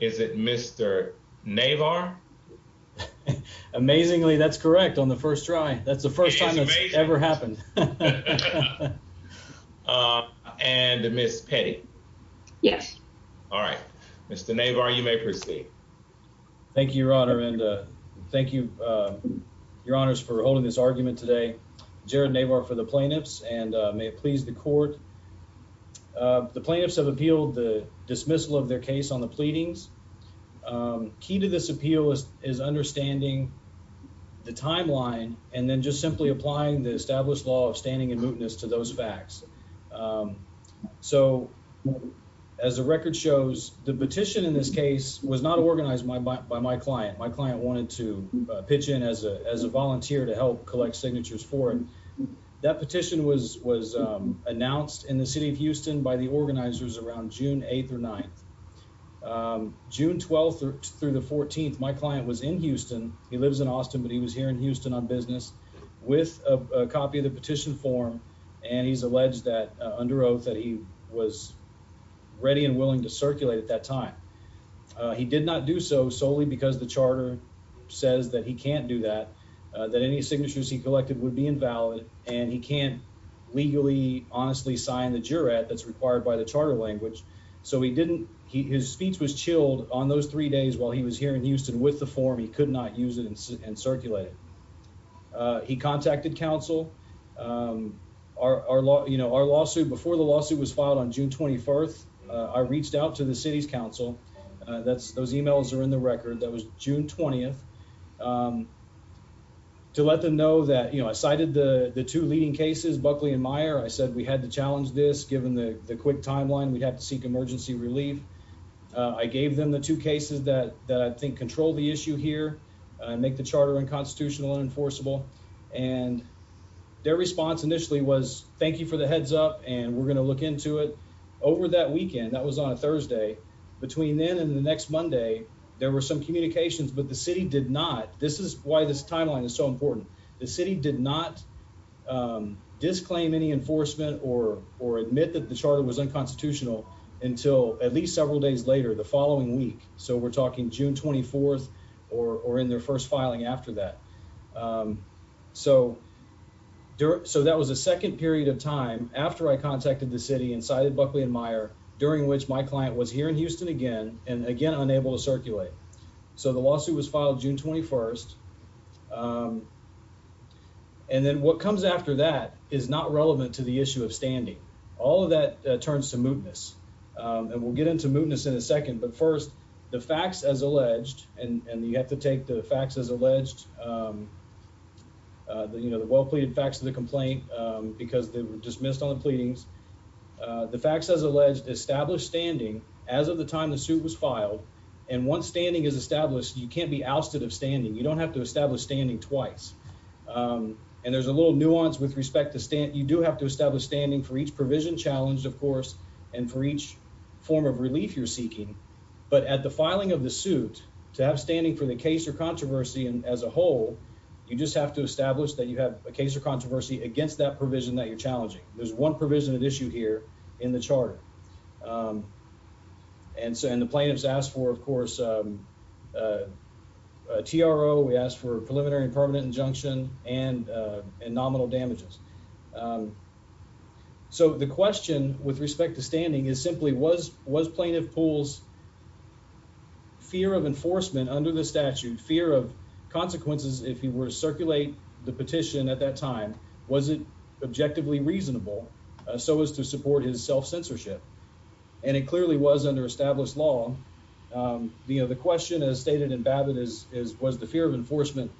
Is it Mr. Navar? Amazingly, that's correct on the first try. That's the first time it's ever happened. And Ms. Petty? Yes. All right. Mr. Navar, you may proceed. Thank you, Your Honor, and thank you, Your Honors, for holding this argument today. Jared Navar for the plaintiffs, and may it please the court. The plaintiffs have made their case on the pleadings. Key to this appeal is understanding the timeline and then just simply applying the established law of standing and mootness to those facts. So as the record shows, the petition in this case was not organized by my client. My client wanted to pitch in as a volunteer to help collect signatures for it. That petition was announced in the city of Houston by the organizers around June 8th or 9th. June 12th through the 14th, my client was in Houston. He lives in Austin, but he was here in Houston on business with a copy of the petition form, and he's alleged that under oath that he was ready and willing to circulate at that time. He did not do so solely because the charter says that he can't do that, that any signatures he collected would be invalid, and he can't legally honestly sign the jurat that's required by the charter language. So he didn't, his speech was chilled on those three days while he was here in Houston with the form. He could not use it and circulate it. He contacted counsel. Our lawsuit, before the lawsuit was filed on June 24th, I reached out to the city's counsel. Those emails are in the record. That was June 20th. To let them know that, you know, I cited the two leading cases, Buckley and Meyer. I said we had to challenge this. Given the quick timeline, we'd have to seek emergency relief. I gave them the two cases that I think control the issue here and make the charter unconstitutional, unenforceable. And their response initially was, thank you for the heads up, and we're going to look into it. Over that weekend, that was on a did not, this is why this timeline is so important. The city did not disclaim any enforcement or admit that the charter was unconstitutional until at least several days later the following week. So we're talking June 24th or in their first filing after that. So that was a second period of time after I contacted the city and cited Buckley and Meyer, during which my client was here in Houston again, and again, unable to circulate. So the lawsuit was filed June 21st. And then what comes after that is not relevant to the issue of standing. All of that turns to mootness. And we'll get into mootness in a second. But first, the facts as alleged, and you have to take the facts as alleged, you know, the well pleaded facts of the complaint, because they were dismissed on the pleadings. The facts as alleged establish standing as of the time the suit was filed. And once standing is established, you can't be ousted of standing, you don't have to establish standing twice. And there's a little nuance with respect to stand, you do have to establish standing for each provision challenge, of course, and for each form of relief you're seeking. But at the filing of the suit to have standing for the case or controversy and as a whole, you just have to establish that you have a case or controversy against that provision that you're challenging. There's one provision at issue here in the charter. And so, and the plaintiffs asked for, of course, TRO, we asked for a preliminary and permanent injunction and nominal damages. So the question with respect to standing is simply was plaintiff Poole's fear of enforcement under the statute, fear of consequences if he were to circulate the petition at that time, was it objectively reasonable so as to support his self-censorship? And it clearly was under established law. The question as stated in Babbitt is, was the fear of enforcement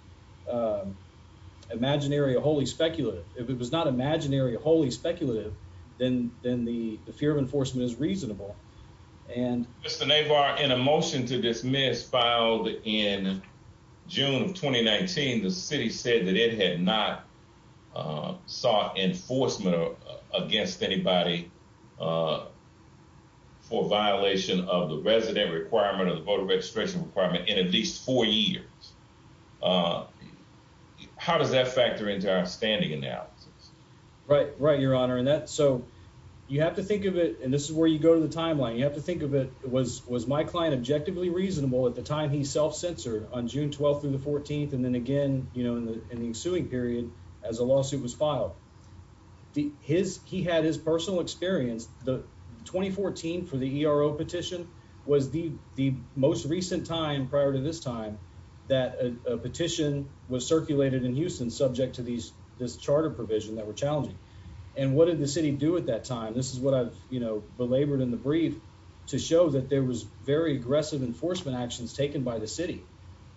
imaginary, wholly speculative? If it was not imaginary, wholly speculative, then the fear of enforcement is reasonable. And Mr. Navar, in a motion to dismiss filed in June of 2019, the city said that it had not sought enforcement against anybody for violation of the resident requirement of the voter registration requirement in at least four years. How does that factor into our standing analysis? Right, right, Your Honor. And that, so you have to think of it, and this is where you go to the timeline, you have to think of it was, was my client objectively reasonable at the time he self-censored on June 12th through the 14th, and then again, you know, in the ensuing period as a lawsuit was filed. His, he had his personal experience, the 2014 for the ERO petition was the, the most recent time prior to this time that a petition was circulated in Houston subject to these, this charter provision that were challenging. And what did the city do at that time? This is what I've, you know, belabored in the brief to show that there was very aggressive enforcement actions taken by the city.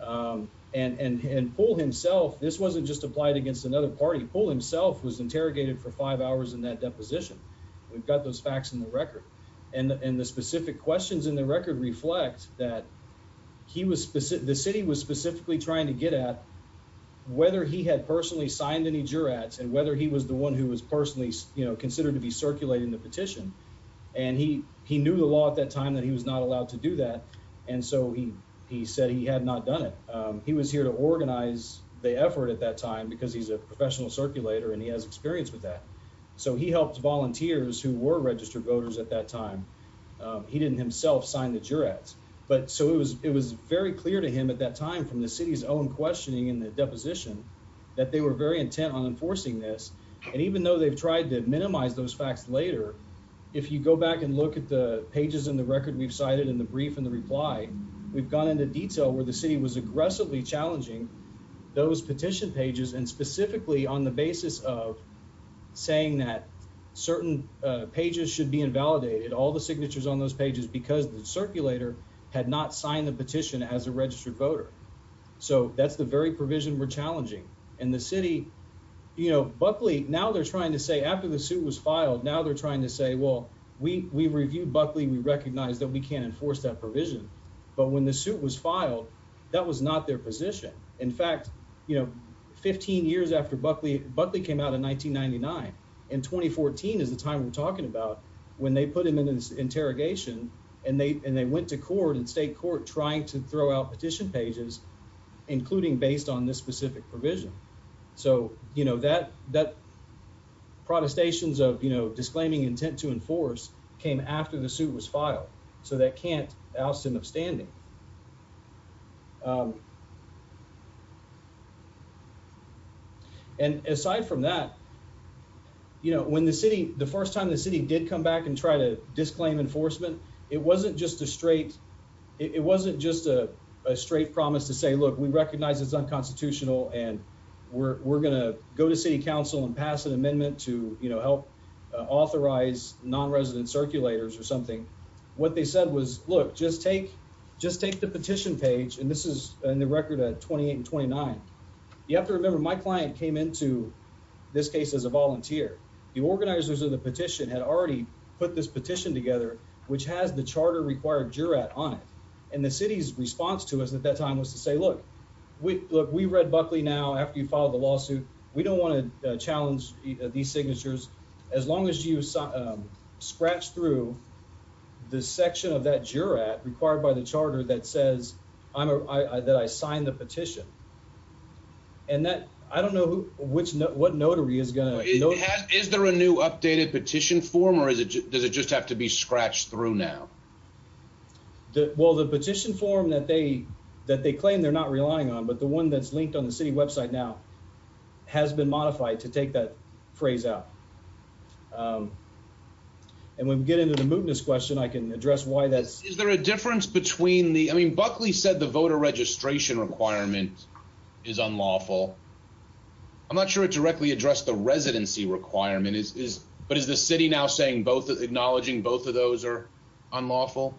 Um, and, and, and pull himself, this wasn't just applied against another party pool himself was interrogated for five hours in that deposition. We've got those facts in the record and the specific questions in the record reflect that he was specific. The city was specifically trying to get at whether he had personally signed any juror ads and whether he was the one who was personally considered to be circulating the petition. And he, he knew the law at that time that he was not allowed to do that. And so he, he said he had not done it. Um, he was here to organize the effort at that time because he's a professional circulator and he has experience with that. So he helped volunteers who were registered voters at that time. Um, he didn't himself sign the juror ads, but so it was, it was very clear to him at that time from the city's own questioning in the deposition that they were very intent on enforcing this. And even though they've if you go back and look at the pages and the record we've cited in the brief and the reply, we've gone into detail where the city was aggressively challenging those petition pages and specifically on the basis of saying that certain pages should be invalidated. All the signatures on those pages because the circulator had not signed the petition as a registered voter. So that's the very provision we're challenging and the city, you know, Buckley now they're trying to say after the suit was filed, now they're trying to say, well, we, we reviewed Buckley. We recognize that we can't enforce that provision, but when the suit was filed, that was not their position. In fact, you know, 15 years after Buckley, Buckley came out in 1999 in 2014 is the time we're talking about when they put him in this interrogation and they, and they went to court and state court trying to throw out petition pages, including based on this specific provision. So, you know, that, that protestations of, you know, disclaiming intent to enforce came after the suit was filed. So that can't Alston upstanding. And aside from that, you know, when the city, the first time the city did come back and try to say, look, we recognize it's unconstitutional and we're going to go to city council and pass an amendment to, you know, help authorize nonresident circulators or something. What they said was, look, just take, just take the petition page. And this is in the record at 28 and 29. You have to remember my client came into this case as a volunteer, the organizers of the petition had already put this petition together, which has the charter required juror on it. And the city's response to us at that time was to say, look, we look, we read Buckley. Now, after you filed the lawsuit, we don't want to challenge these signatures. As long as you scratch through the section of that juror at required by the charter that says, I'm a, I, that I signed the petition and that I don't know which, what notary is going to know, is there a new updated petition form or is it, does it just have to be scratched through now? The, well, the petition form that they, that they claim they're not relying on, but the one that's linked on the city website now has been modified to take that phrase out. Um, and when we get into the mootness question, I can address why that's, is there a difference between the, I mean, Buckley said the voter registration requirement is unlawful. I'm not sure it directly addressed the residency requirement is, is, but is the city now saying both acknowledging both of those are unlawful?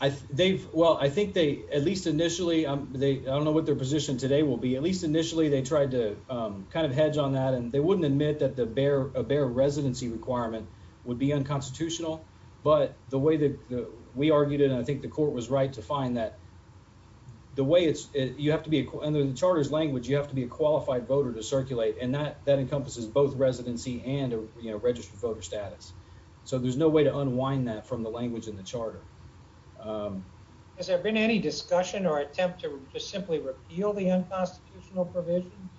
I, they've, well, I think they at least initially, um, they, I don't know what their position today will be. At least initially they tried to, um, kind of hedge on that and they wouldn't admit that the bear, a bear residency requirement would be unconstitutional. But the way that we argued it, and I think the court was right to find that the way it's, you have to be in the charter's language, you have to be a qualified voter to voter status. So there's no way to unwind that from the language in the charter. Has there been any discussion or attempt to just simply repeal the unconstitutional provision?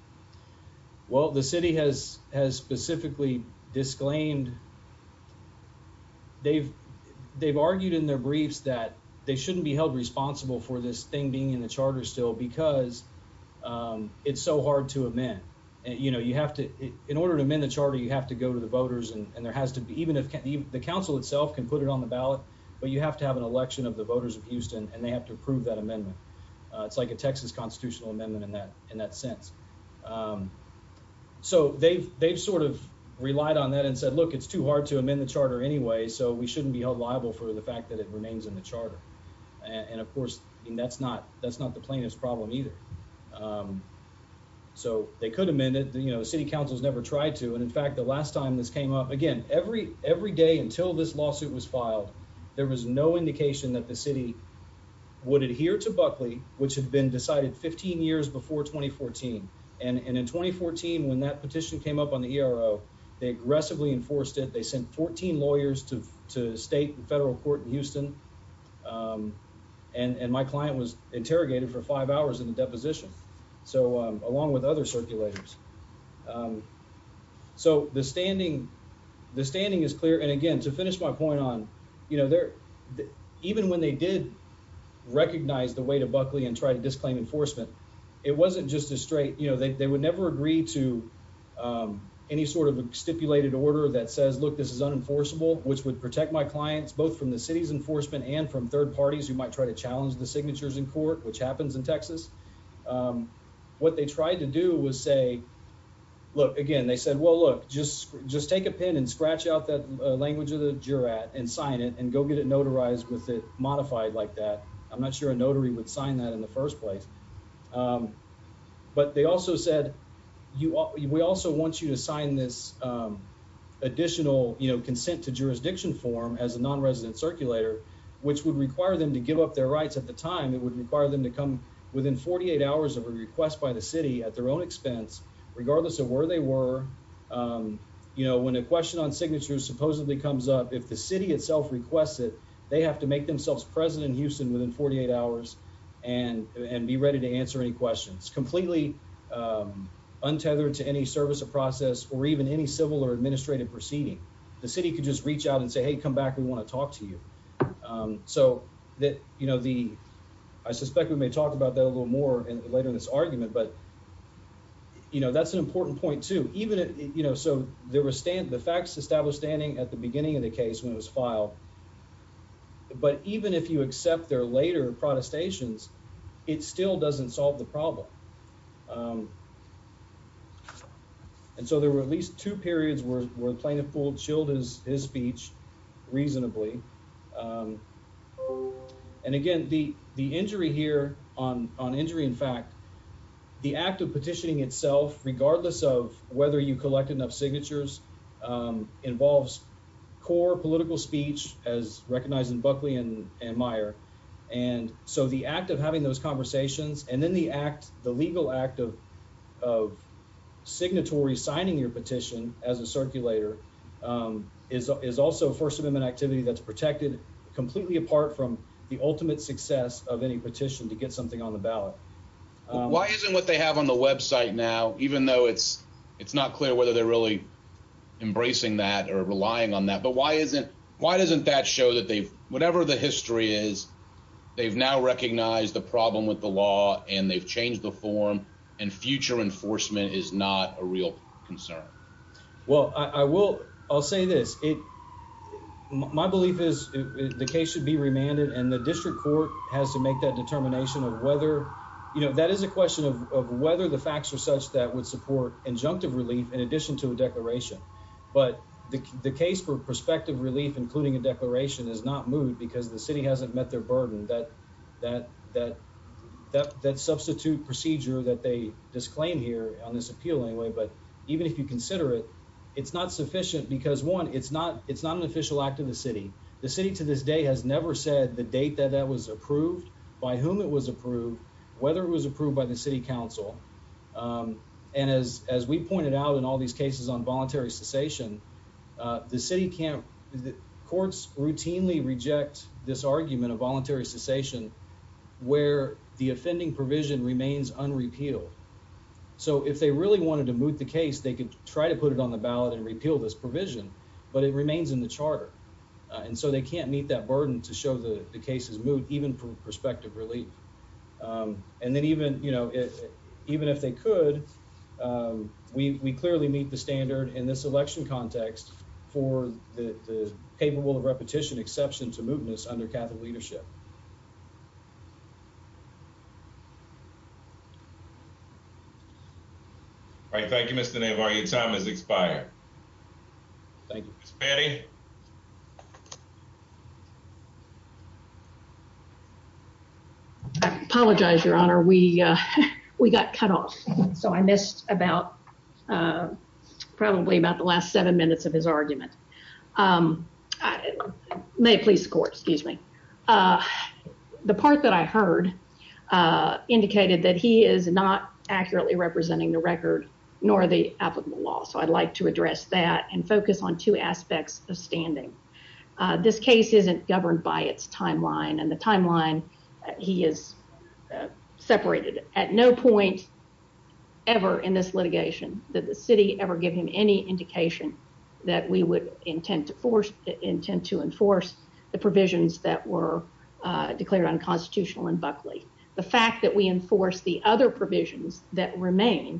Well, the city has, has specifically disclaimed. They've, they've argued in their briefs that they shouldn't be held responsible for this thing being in the charter still because, um, it's so hard to amend. You know, you have to, in order to amend the charter, you have to go to the voters and there has to be, even if the council itself can put it on the ballot, but you have to have an election of the voters of Houston and they have to approve that amendment. Uh, it's like a Texas constitutional amendment in that, in that sense. Um, so they've, they've sort of relied on that and said, look, it's too hard to amend the charter anyway, so we shouldn't be held liable for the fact that it remains in the charter. And of course, that's not, that's not the plaintiff's problem either. Um, so they could amend it. You know, the city council has never tried to. And in fact, the last time this came up again, every, every day until this lawsuit was filed, there was no indication that the city would adhere to Buckley, which had been decided 15 years before 2014. And in 2014, when that petition came up on the ERO, they aggressively enforced it. They sent 14 lawyers to, to state and federal court in Houston. Um, and, and my client was interrogated for five hours in the circulators. Um, so the standing, the standing is clear. And again, to finish my point on, you know, there, even when they did recognize the way to Buckley and try to disclaim enforcement, it wasn't just a straight, you know, they, they would never agree to, um, any sort of stipulated order that says, look, this is unenforceable, which would protect my clients, both from the city's enforcement and from third parties who might try to challenge the signatures in court, which happens in Texas. Um, what they tried to do was say, look again, they said, well, look, just, just take a pen and scratch out that language of the jurat and sign it and go get it notarized with it modified like that. I'm not sure a notary would sign that in the first place. Um, but they also said, you, we also want you to sign this, um, additional, you know, consent to jurisdiction form as a non-resident circulator, which would require them to give up their rights at the time. It would require them to come within 48 hours of a request by the city at their own expense, regardless of where they were. Um, you know, when a question on signatures supposedly comes up, if the city itself requests it, they have to make themselves president Houston within 48 hours and, and be ready to answer any questions completely, um, untethered to any service or process, or even any civil or administrative proceeding, the city could just I suspect we may talk about that a little more later in this argument, but you know, that's an important point too, even if, you know, so there were Stan, the facts established standing at the beginning of the case when it was filed, but even if you accept their later protestations, it still doesn't solve the problem. Um, and so there were at least two the injury here on, on injury. In fact, the act of petitioning itself, regardless of whether you collect enough signatures, um, involves core political speech as recognized in Buckley and, and Meyer. And so the act of having those conversations and then the act, the legal act of, of signatory signing your petition as a circulator, um, is, is also a first amendment activity that's of any petition to get something on the ballot. Why isn't what they have on the website now, even though it's, it's not clear whether they're really embracing that or relying on that, but why isn't, why doesn't that show that they've, whatever the history is, they've now recognized the problem with the law and they've changed the form and future enforcement is not a real concern. Well, I will, I'll say this. It, my belief is the case should be remanded and the district court has to make that determination of whether, you know, that is a question of, of whether the facts are such that would support injunctive relief in addition to a declaration. But the case for prospective relief, including a declaration is not moved because the city hasn't met their burden that, that, that, that, that substitute procedure that they disclaimed here on this appeal anyway. But even if you consider it, it's not sufficient because one, it's not, it's not an official act of the city. The city to this day has never said the date that that was approved by whom it was approved, whether it was approved by the city council. Um, and as, as we pointed out in all these cases on voluntary cessation, uh, the city can't, the courts routinely reject this argument of voluntary cessation where the offending provision remains unrepealed. So if they really wanted to move the case, they could try to put it on the ballot and repeal this provision, but it remains in the charter. Uh, and so they can't meet that burden to show the cases moved, even for prospective relief. Um, and then even, you know, even if they could, um, we, we clearly meet the standard in this election context for the capable of repetition exception to All right. Thank you, Mr. Navarro. Your time has expired. Thank you. Apologize, your honor. We, uh, we got cut off. So I missed about, uh, probably about the last seven minutes of his argument. Um, may please court, excuse me. Uh, the part that I heard, uh, indicated that he is not accurately representing the record nor the applicable law. So I'd like to address that and focus on two aspects of standing. Uh, this case isn't governed by its timeline and the timeline he is, uh, separated at no point ever in this litigation that the city ever give him any indication that we would intend to force intent to enforce the provisions that were, uh, declared unconstitutional in Buckley. The fact that we enforce the other provisions that remain,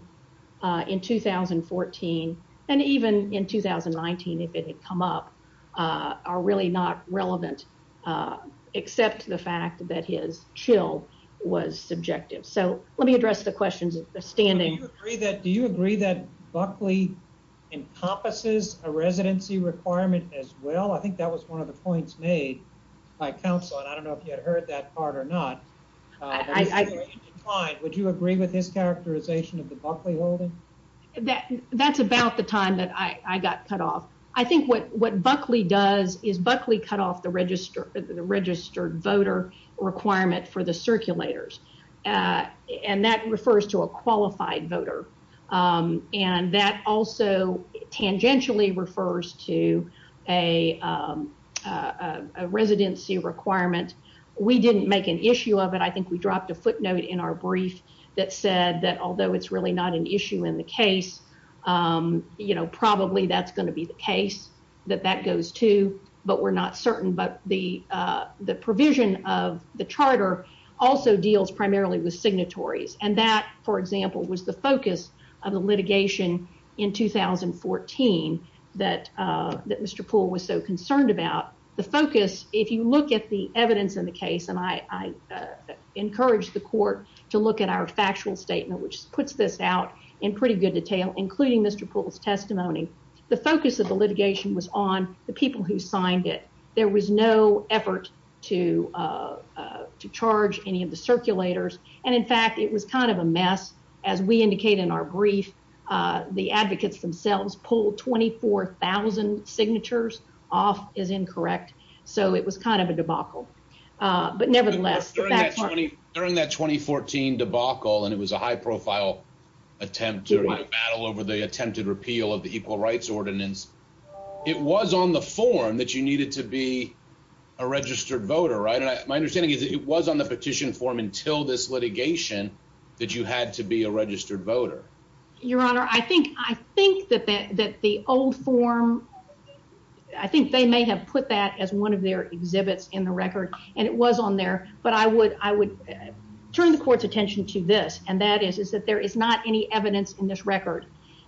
uh, in 2014 and even in 2019, if it had come up, uh, are really not relevant, uh, except the fact that his chill was subjective. So let me address the questions of standing. Do you agree that Buckley encompasses a residency requirement as well? I think that was one of the points made by counsel. And I don't know if you had heard that part or not. Uh, would you agree with his characterization of the Buckley holding? That that's about the time that I got cut off. I think what Buckley does is Buckley cut off the register, the registered voter requirement for the circulators. Uh, and that refers to a qualified a, um, uh, a residency requirement. We didn't make an issue of it. I think we dropped a footnote in our brief that said that although it's really not an issue in the case, um, you know, probably that's going to be the case that that goes to, but we're not certain. But the, uh, the provision of the charter also deals primarily with signatories. And that, for example, was the focus of the 2014 that Mr Poole was so concerned about the focus. If you look at the evidence in the case, and I encourage the court to look at our factual statement, which puts this out in pretty good detail, including Mr Poole's testimony. The focus of the litigation was on the people who signed it. There was no effort to, uh, to charge any of the circulators. And in fact, it was kind of a mess. As we indicate in our brief, the advocates themselves pulled 24,000 signatures off is incorrect. So it was kind of a debacle. But nevertheless, during that 2014 debacle, and it was a high profile attempt to battle over the attempted repeal of the Equal Rights Ordinance, it was on the form that you needed to be a registered voter, right? And my understanding is it was on the petition form until this litigation that you had to be a registered voter. Your Honor, I think I think that that that the old form, I think they may have put that as one of their exhibits in the record, and it was on there. But I would I would turn the court's attention to this. And that is is that there is not any evidence in this record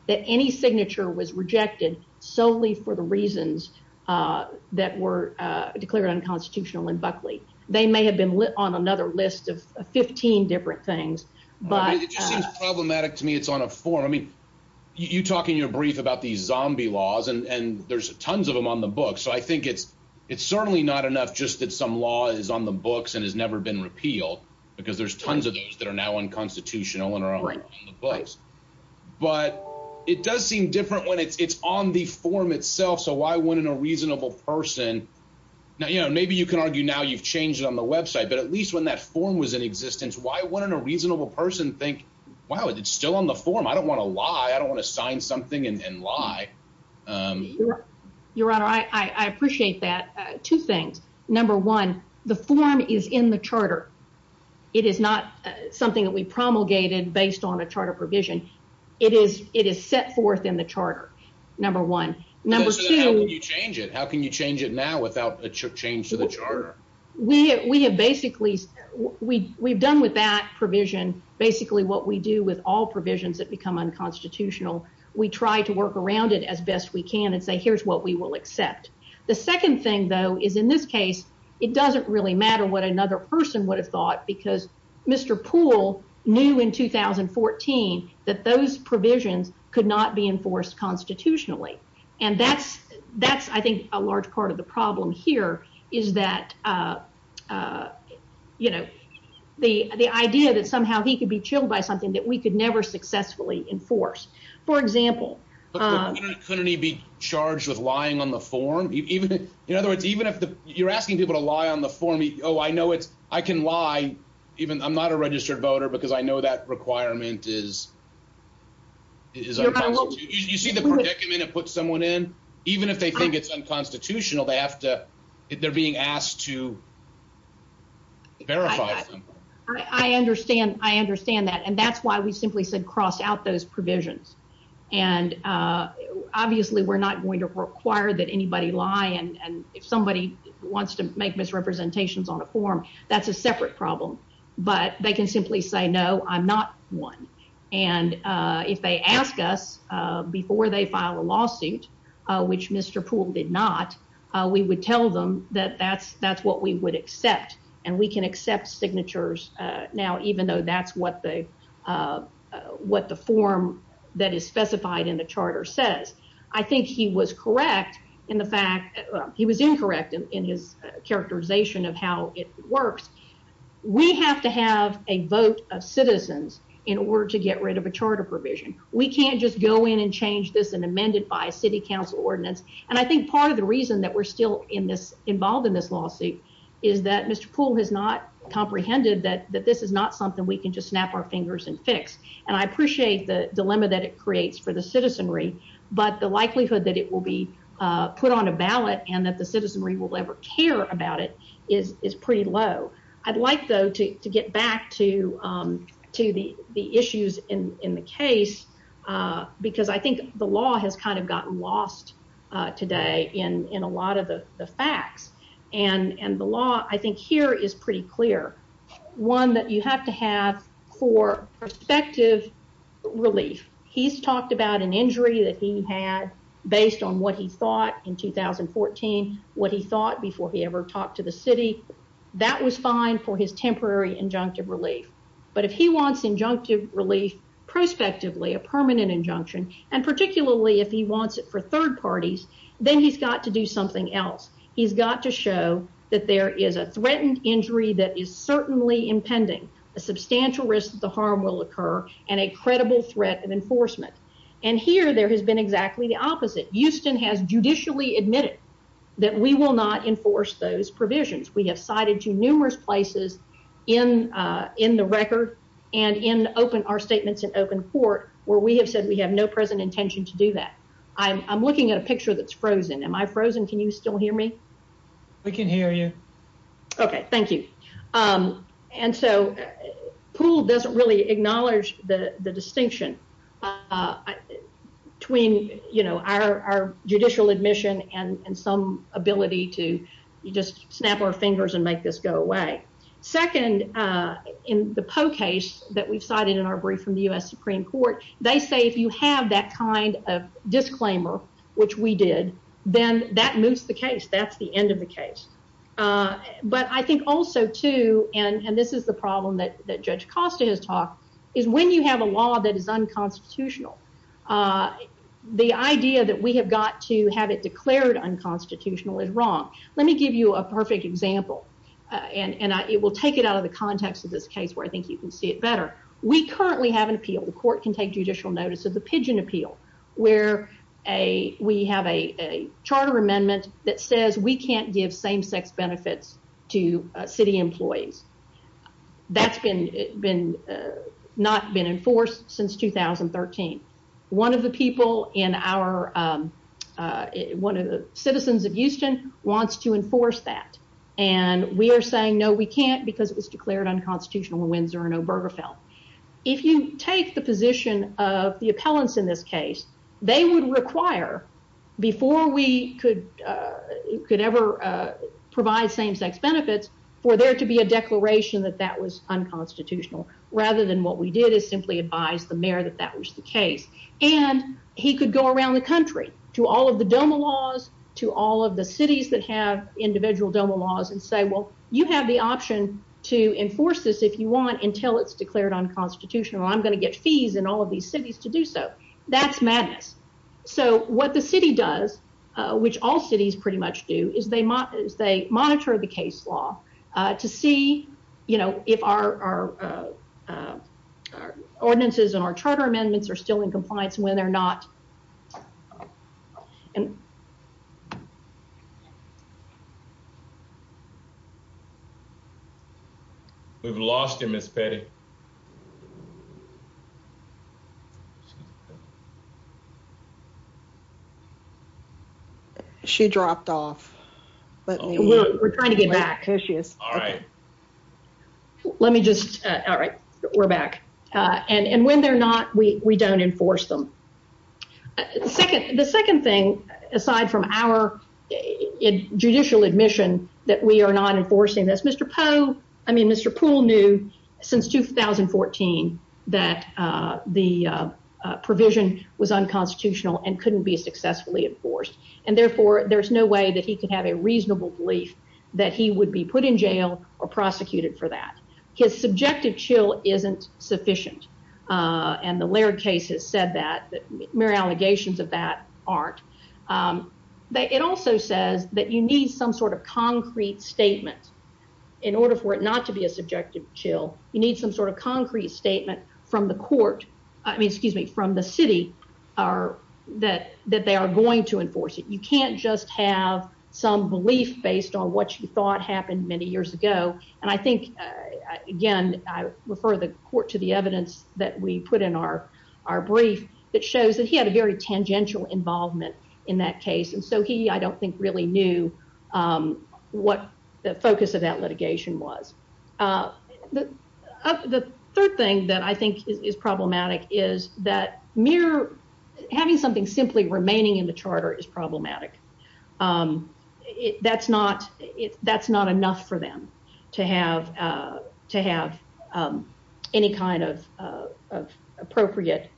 that any signature was rejected solely for the reasons that were declared unconstitutional in Buckley. They may have been on another list of 15 different things, but it just seems problematic to me. It's on a form. I mean, you talk in your brief about these zombie laws, and there's tons of them on the book. So I think it's it's certainly not enough just that some law is on the books and has never been repealed because there's tons of those that are now unconstitutional and are on the books. But it does seem different when it's on the form itself. So why wouldn't a reasonable person? Now, you know, maybe you can argue now you've changed it on the website, but at least when that form was in existence, why wouldn't a reasonable person think, wow, it's still on the form? I don't want to lie. I don't want to sign something and lie. Your Honor, I appreciate that. Two things. Number one, the form is in the charter. It is not something that we promulgated based on a charter provision. It is it is set forth in the charter. Number one. Number two, how can you change it now without a change to the charter? We have basically we've done with that provision basically what we do with all provisions that become unconstitutional. We try to work around it as best we can and say, here's what we will accept. The second thing, though, is in this case, it doesn't really matter what another person would have thought because Mr. Poole knew in 2014 that those provisions could not be enforced constitutionally. And that's that's I think a large part of the problem here is that, you know, the the idea that somehow he could be chilled by something that we could never successfully enforce. For example. Couldn't he be charged with lying on the form? Even in other words, even if you're asking people to lie on the form, oh, I know it's I can lie even I'm not a registered voter because I know that requirement is. You see the document and put someone in, even if they think it's unconstitutional, they have to if they're being asked to. I understand, I understand that, and that's why we simply said cross out those provisions, and obviously we're not going to require that anybody lie. And if somebody wants to make misrepresentations on a form, that's a separate problem. But they can simply say no, I'm not one. And if they ask us before they file a lawsuit, which Mr. Poole did not, we would tell them that that's that's what we would accept. And we can accept signatures now, even though that's what they what the form that is specified in the charter says. I think he was correct in the fact he was incorrect in his characterization of how it works. We have to have a vote of citizens in order to get rid of a charter provision. We can't just go in and change this and amend it by city council ordinance. And I think part of the reason that we're still in this involved in this lawsuit is that Mr. Poole has not comprehended that that this is not something we can just snap our fingers and fix. And I appreciate the dilemma that it creates for the citizenry, but the likelihood that it will be about it is pretty low. I'd like, though, to get back to the issues in the case, because I think the law has kind of gotten lost today in a lot of the facts. And the law, I think, here is pretty clear. One that you have to have for perspective relief. He's talked about an to the city. That was fine for his temporary injunctive relief. But if he wants injunctive relief prospectively, a permanent injunction, and particularly if he wants it for third parties, then he's got to do something else. He's got to show that there is a threatened injury that is certainly impending a substantial risk that the harm will occur and a credible threat of enforcement. And here there has been exactly the opposite. Houston has judicially admitted that we will not enforce those provisions. We have cited to numerous places in in the record and in open our statements in open court where we have said we have no present intention to do that. I'm looking at a picture that's frozen. Am I frozen? Can you still hear me? I can hear you. Okay, thank you. And so pool doesn't really acknowledge the distinction between, you know, our judicial admission and some ability to just snap our fingers and make this go away. Second, in the poll case that we've cited in our brief from the U.S. Supreme Court, they say if you have that kind of disclaimer, which we did, then that moves the case. That's the end of the case. But I think also, too, and this is the problem that Judge Costa has talked, is when you have a law that is unconstitutional, the idea that we have got to have it declared unconstitutional is wrong. Let me give you a perfect example, and it will take it out of the context of this case where I think you can see it better. We currently have an appeal. The court can take judicial notice of the Pigeon Appeal, where we have a charter amendment that has not been enforced since 2013. One of the citizens of Houston wants to enforce that, and we are saying, no, we can't because it was declared unconstitutional in Windsor and Obergefell. If you take the position of the appellants in this case, they would require, before we could ever provide same-sex benefits, for there to be a declaration that that was unconstitutional, rather than what we did is simply advise the mayor that that was the case. And he could go around the country to all of the DOMA laws, to all of the cities that have individual DOMA laws, and say, well, you have the option to enforce this if you want until it's declared unconstitutional. I'm going to get fees in all of these cities to do so. That's madness. So, what the city does, which all cities pretty much do, is they monitor the case law to see, you know, if our ordinances and our charter amendments are still in compliance when they're not. We've lost you, Ms. Petty. She dropped off. We're trying to get back. Let me just, all right, we're back. And when they're not, we don't enforce them. The second thing, aside from our judicial admission that we are not enforcing this, Mr. Poole knew since 2014 that the provision was unconstitutional and couldn't be successfully enforced. And therefore, there's no way that he could have a reasonable belief that he would be put in jail or prosecuted for that. His subjective chill isn't sufficient. And the Laird case has said that. Mayor allegations of that aren't. It also says that you need some sort of concrete statement in order for it not to be a subjective chill. You need some sort of that they are going to enforce it. You can't just have some belief based on what you thought happened many years ago. And I think, again, I refer the court to the evidence that we put in our brief that shows that he had a very tangential involvement in that case. And so he, I don't think really knew what the focus of that litigation was. The third thing that I think is problematic is that having something simply remaining in the charter is problematic. That's not enough for them to have any kind of appropriate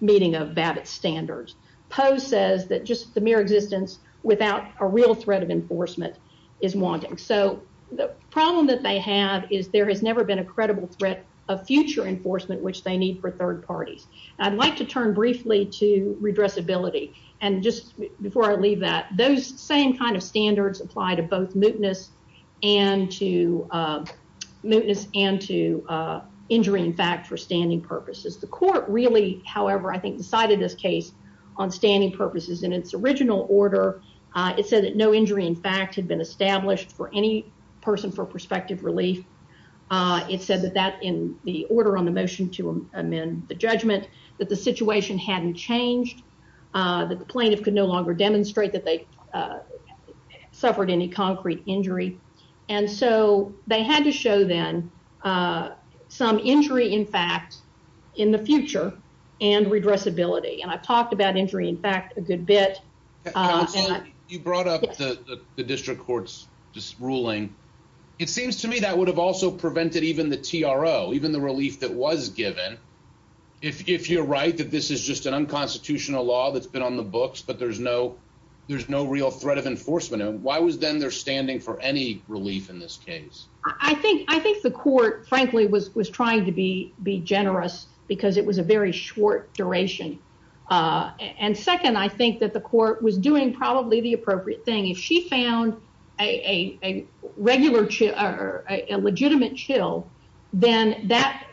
meeting of Babbitt standards. Poe says that just the mere existence without a real threat of enforcement is wanting. So the problem that they have is there has never been a credible threat of future enforcement, which they need for third parties. I'd like to turn briefly to redress ability. And just before I leave that, those same kind of standards apply to both mootness and to mootness and to injury. In fact, for standing purposes, the court really, however, I think decided this case on standing purposes in its original order. It said that no injury, in fact, had been established for any person for prospective relief. It said that that in the order on the motion to amend the judgment, that the situation hadn't changed, that the plaintiff could no longer demonstrate that they suffered any concrete injury. And so they had to show them some injury, in fact, in the future and redress ability. And I've talked about injury, in fact, a good bit. You brought up the district court's ruling. It seems to me that would have also prevented even the T.R.O., even the relief that was given. If you're right, that this is just an unconstitutional law that's been on the books, but there's no there's no real threat of enforcement. Why was then there standing for any relief in this case? I think I think the court, frankly, was was trying to be be generous because it was a very short duration. And second, I think that the court was doing probably the regular legitimate chill, then that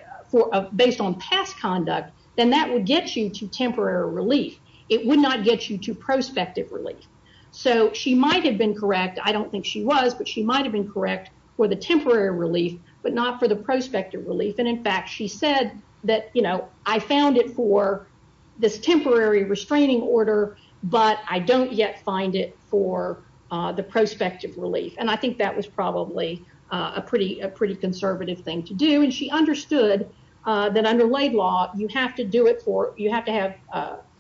based on past conduct, then that would get you to temporary relief. It would not get you to prospective relief. So she might have been correct. I don't think she was, but she might have been correct for the temporary relief, but not for the prospective relief. And in fact, she said that, you know, I found it for this temporary restraining order, but I don't yet find it for the prospective relief. And I think that was probably a pretty a pretty conservative thing to do. And she understood that under Laidlaw, you have to do it for you have to have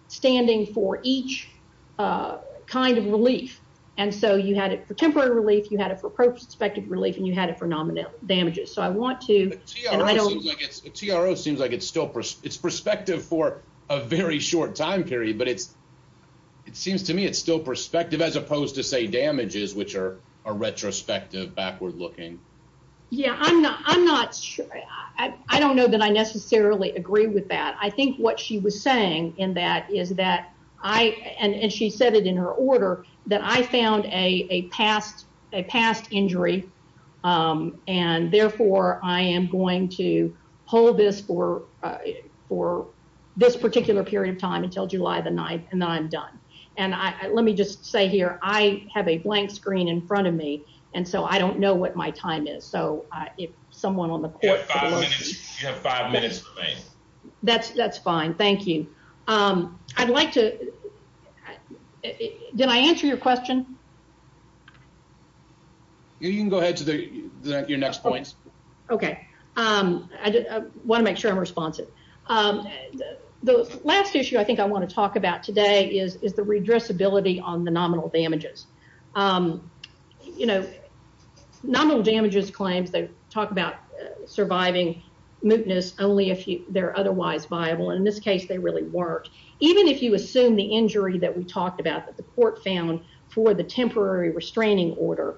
standing for each kind of relief. And so you had it for temporary relief. You had it for prospective relief and you had it for nominal damages. So I want to T.R.O. seems like it's still it's perspective for a very short time period, but it seems to me it's still perspective as opposed to say damages, which are a retrospective backward looking. Yeah, I'm not. I'm not sure. I don't know that I necessarily agree with that. I think what she was saying in that is that I and she said it in her order that I found a past a past injury. And therefore, I am going to hold this for for this particular period of time until July the 9th, and then I'm done. And let me just say here, I have a blank screen in front of me. And so I don't know what my time is. So if someone on the court that's that's fine. Thank you. I'd like to. Did I answer your question? You can go ahead to your next points. OK, I want to make sure I'm responsive. The last issue I think I want to talk about today is the redress ability on the nominal damages. You know, nominal damages claims they talk about surviving mootness only if they're otherwise viable. And in this case, they really weren't. Even if you assume the injury that we talked about that the court found for the temporary restraining order,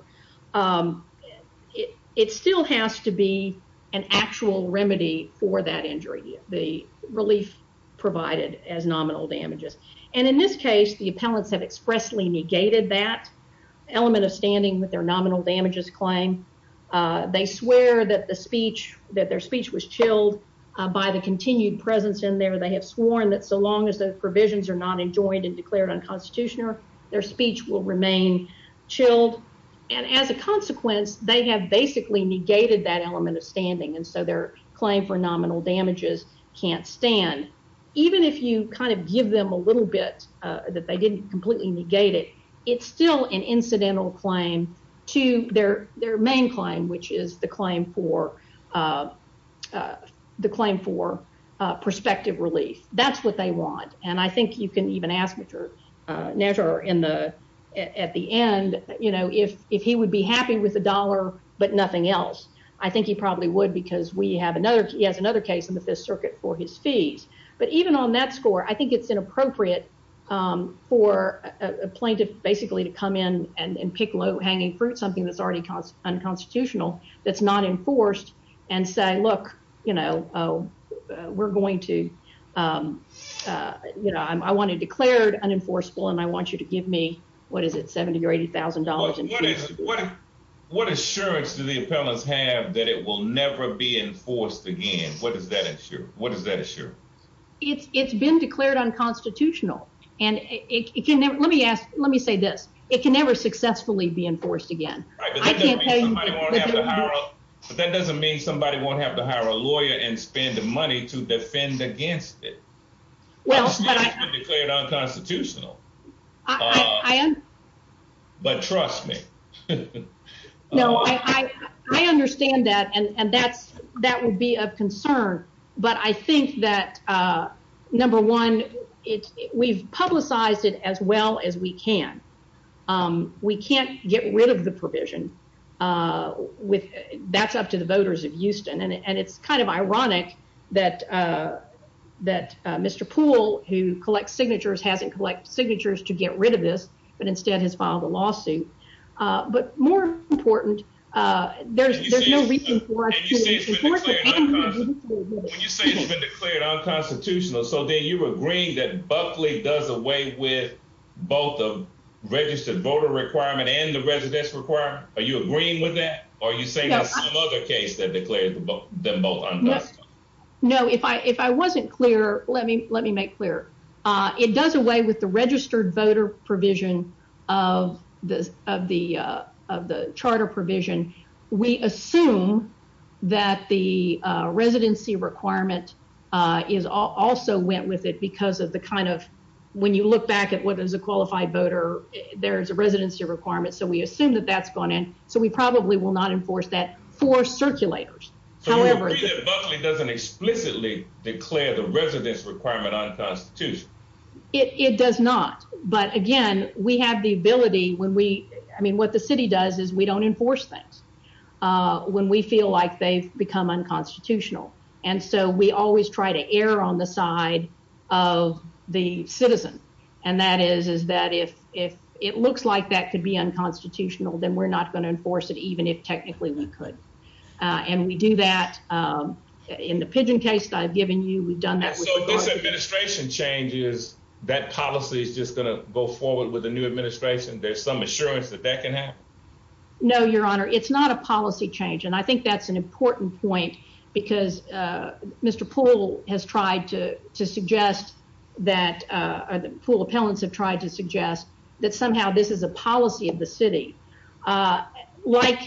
it still has to be an actual remedy for that injury. The relief provided as nominal damages. And in this case, the appellants have expressly negated that element of standing with their nominal damages claim. They swear that the speech that their speech was chilled by the continued presence in there. They have sworn that so long as the provisions are not joined and declared unconstitutional, their speech will remain chilled. And as a consequence, they have basically negated that element of standing. And so their claim for nominal damages can't stand, even if you kind of give them a little bit that they didn't completely negate it. It's still an incidental claim to their their main claim, which is the claim for the claim for prospective relief. That's what they want. And I think you can even ask measure in the at the end, you know, if if he would be happy with a dollar but nothing else, I think he probably would, because we have another. He has another case in the Fifth Circuit for his fees. But even on that score, I think it's inappropriate for a plaintiff basically to come in and pick low hanging fruit, something that's already unconstitutional, that's not enforced and say, look, you know, we're going to, you know, I want to declared unenforceable and I want you to give me what is it, 70 or $80,000? And what is what? What assurance do the appellants have that it will never be enforced again? What does that ensure? What does that assure? It's it's been declared unconstitutional. And it can. Let me ask. Let me say this. It can never successfully be enforced again. I can't. I don't have to hire. But that doesn't mean somebody won't have to hire a lawyer and spend money to defend against it. Well, but I declared unconstitutional. I am. But trust me. No, I understand that. And that's that would be of concern. But I think that, number one, it's we've publicized it as well as we can. We can't get rid of the provision. With that's up to the voters of Houston. And it's kind of ironic that that Mr. Poole, who collects signatures, hasn't collect signatures to get rid of this, but instead has filed a lawsuit. But more important, there's there's no reason. When you say it's been declared unconstitutional, so then you were agreeing that Buckley does away with both of registered voter requirement and the residence requirement. Are you agreeing with that? Are you saying that some other case that declared them both? No, if I if I wasn't clear, let me let me make clear. It does away with the registered voter provision of the of the of the charter provision. We assume that the residency requirement is also went with it because of the kind of when you look back at what is a qualified voter, there's a residency requirement. So we assume that that's gone in. So we probably will not enforce that for circulators. However, it doesn't explicitly declare the residence requirement on Constitution. It does not. But again, we have the ability when we I mean, what the city does is we don't enforce things when we feel like they've become unconstitutional. And so we always try to err on the side of the citizen. And that is is that if if it looks like that could be unconstitutional, then we're not going to enforce it, even if technically we could. And we do that in the pigeon case I've given you. We've done that. So this administration changes that policy is just going to go forward with the new administration. There's some assurance that that can happen. No, Your Honor, it's not a policy change. And I think that's an important point because Mr. Poole has tried to suggest that or the Poole appellants have tried to suggest that somehow this is a policy of the city. Like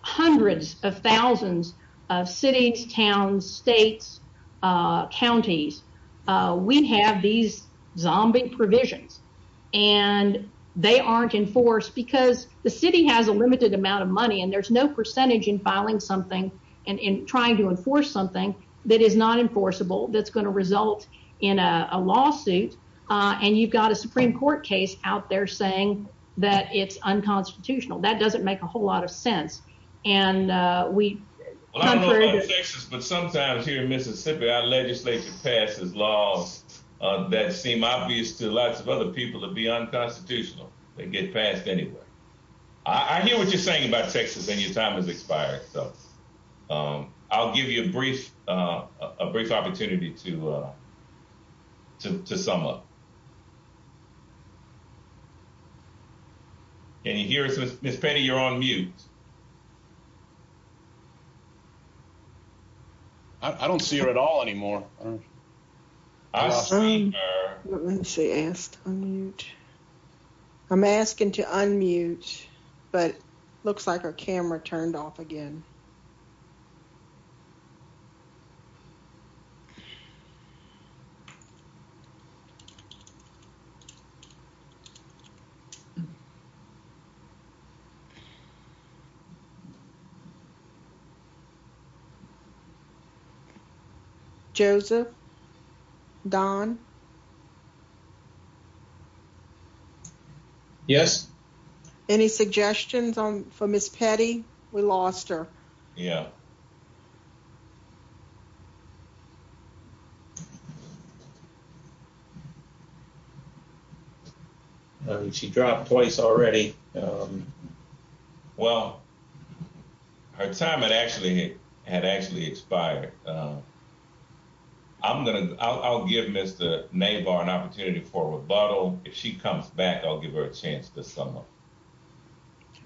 hundreds of thousands of cities, towns, states, counties, we have these zombie provisions and they aren't enforced because the city has a trying to enforce something that is not enforceable. That's going to result in a lawsuit. And you've got a Supreme Court case out there saying that it's unconstitutional. That doesn't make a whole lot of sense. And we Texas, but sometimes here in Mississippi, our legislature passes laws that seem obvious to lots of other people to be unconstitutional. They get passed anyway. I hear what you're saying about Texas and your time has expired. So I'll give you a brief opportunity to sum up. Can you hear us? Ms. Penny, you're on mute. I don't see her at all anymore. I'm asking to unmute, but it looks like our camera turned off again. Okay. Joseph? Don? Yes. Any suggestions for Ms. Penny? We lost her. Yeah. She dropped twice already. Well, her time had actually expired. I'll give Mr. Nabar an opportunity for a rebuttal. If she comes back, I'll give her a chance to sum up.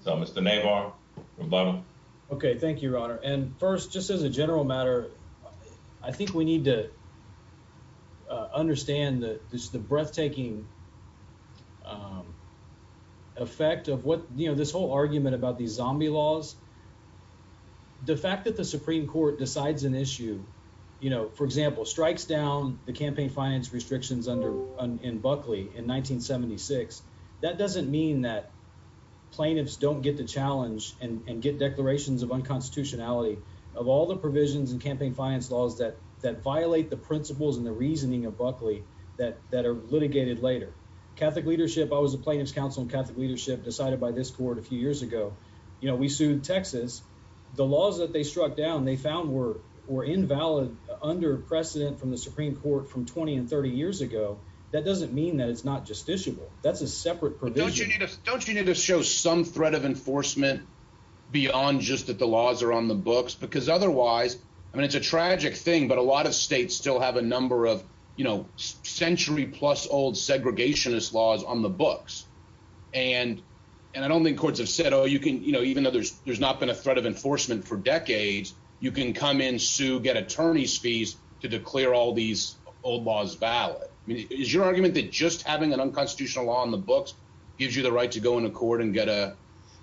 So Mr. Nabar, rebuttal. Okay. Thank you, Your Honor. And first, just as a general matter, I think we need to this whole argument about these zombie laws, the fact that the Supreme Court decides an issue, for example, strikes down the campaign finance restrictions in Buckley in 1976, that doesn't mean that plaintiffs don't get to challenge and get declarations of unconstitutionality of all the provisions and campaign finance laws that violate the principles and the reasoning of Buckley that are litigated later. Catholic leadership, I was a plaintiff's leadership decided by this court a few years ago. We sued Texas. The laws that they struck down, they found were invalid, under precedent from the Supreme Court from 20 and 30 years ago. That doesn't mean that it's not justiciable. That's a separate provision. Don't you need to show some threat of enforcement beyond just that the laws are on the books? Because otherwise, I mean, it's a tragic thing, but a lot of states still have a number of century plus old segregationist laws on the books. And, and I don't think courts have said, oh, you can, you know, even though there's, there's not been a threat of enforcement for decades, you can come in, sue, get attorney's fees to declare all these old laws valid. I mean, is your argument that just having an unconstitutional law on the books gives you the right to go into court and get a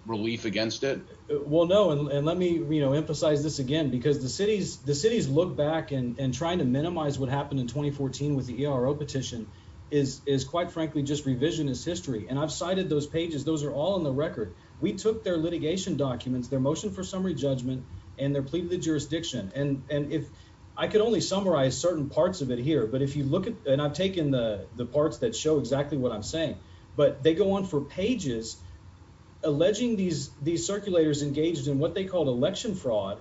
relief against it? Well, no. And let me, you know, emphasize this again, because the cities, the cities look back and trying to minimize what happened in 2014 with the ERO petition is, is quite frankly, just revisionist history. And I've cited those pages. Those are all in the record. We took their litigation documents, their motion for summary judgment, and their plea to the jurisdiction. And, and if I could only summarize certain parts of it here, but if you look at, and I've taken the parts that show exactly what I'm saying, but they go on for pages, alleging these, these circulators engaged in what they called election fraud,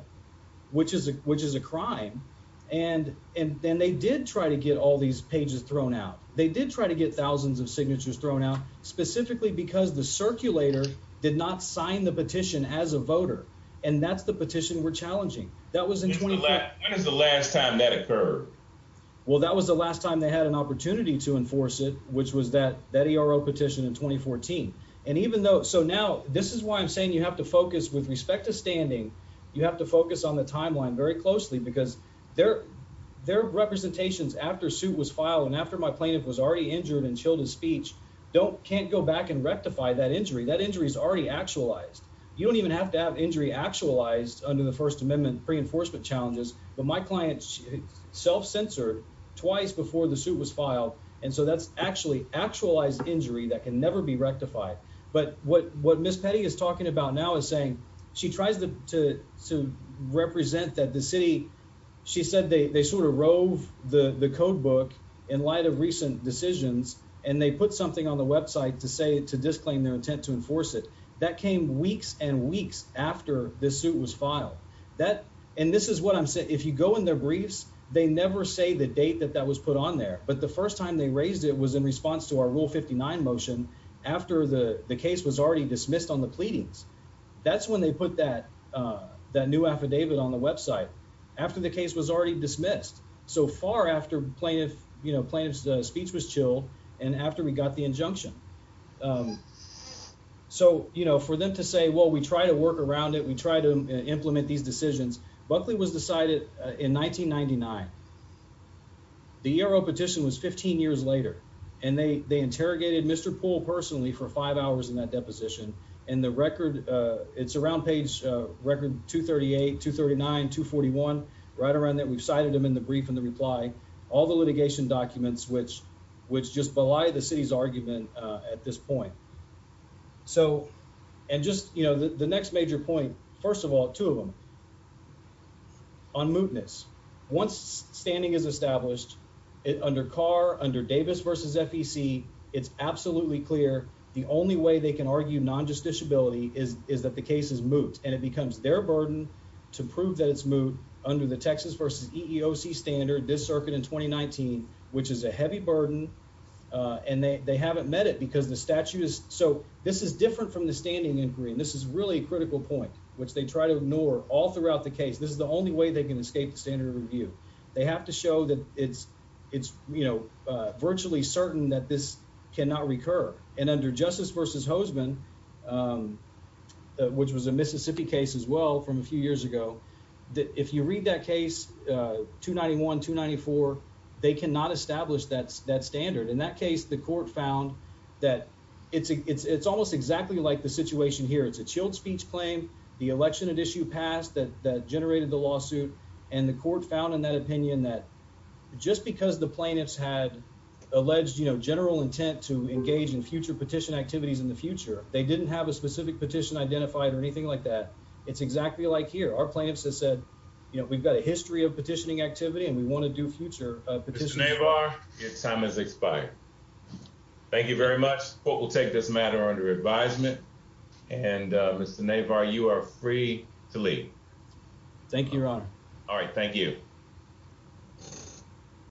which is a, which is a crime. And, and, and they did try to get all these pages thrown out. They did try to get thousands of signatures thrown out specifically because the circulator did not sign the petition as a voter. And that's the petition we're challenging. That was in 20, when is the last time that occurred? Well, that was the last time they had an opportunity to enforce it, which was that, that ERO petition in 2014. And even though, so now this is why I'm saying you have to focus with respect to standing. You have to focus on the timeline very closely because their, their representations after suit was filed. And after my plaintiff was already injured and chilled his speech, don't can't go back and rectify that injury. That injury is already actualized. You don't even have to have injury actualized under the first amendment pre-enforcement challenges, but my client self-censored twice before the suit was filed. And so that's actually actualized injury that can never be rectified. But what, what Ms. Petty is talking about now is saying she tries to, to, to represent that the city, she said, they, they sort of rove the, the code book in light of recent decisions, and they put something on the website to say, to disclaim their intent to enforce it. That came weeks and weeks after this suit was filed. That, and this is what I'm saying. If you go in their briefs, they never say the date that that was put on there, but the first time they raised it was in response to our rule 59 motion after the case was already dismissed on the pleadings. That's when they put that, that new affidavit on the website after the case was already dismissed. So far after plaintiff, you know, plaintiff's speech was chilled and after we got the injunction. So, you know, for them to say, well, we try to work around it. We try to in 1999, the Euro petition was 15 years later and they, they interrogated Mr. Poole personally for five hours in that deposition. And the record, uh, it's around page, uh, record 238, 239, 241, right around that. We've cited them in the brief and the reply, all the litigation documents, which, which just belie the city's argument, uh, at this point. So, and just, you know, the next major point, first of all, two of them on mootness. Once standing is established under car under Davis versus FEC. It's absolutely clear. The only way they can argue non-justice ability is, is that the case is moot and it becomes their burden to prove that it's moot under the Texas versus EEOC standard this circuit in 2019, which is a heavy burden. Uh, and they, they haven't met it because the statute is so this is different from the standing inquiry. And this is really a critical point, which they try to ignore all throughout the case. This is the only way they can escape the standard review. They have to show that it's, it's, you know, uh, virtually certain that this cannot recur and under justice versus Hoseman, um, which was a Mississippi case as well from a few years ago, that if you read that case, uh, 291, 294, they cannot establish that that standard. In that case, the court found that it's, it's, it's almost exactly like the situation here. It's a chilled speech claim, the election at issue past that, that generated the lawsuit. And the court found in that opinion, that just because the plaintiffs had alleged, you know, general intent to engage in future petition activities in the future, they didn't have a specific petition identified or anything like that. It's exactly like here. Our plaintiffs have said, you know, we've got a history of petitioning activity and we want to do future petition. Your time is expired. Thank you very much. Court will take this matter under advisement and Mr. Navar, you are free to leave. Thank you, Your Honor. All right. Thank you.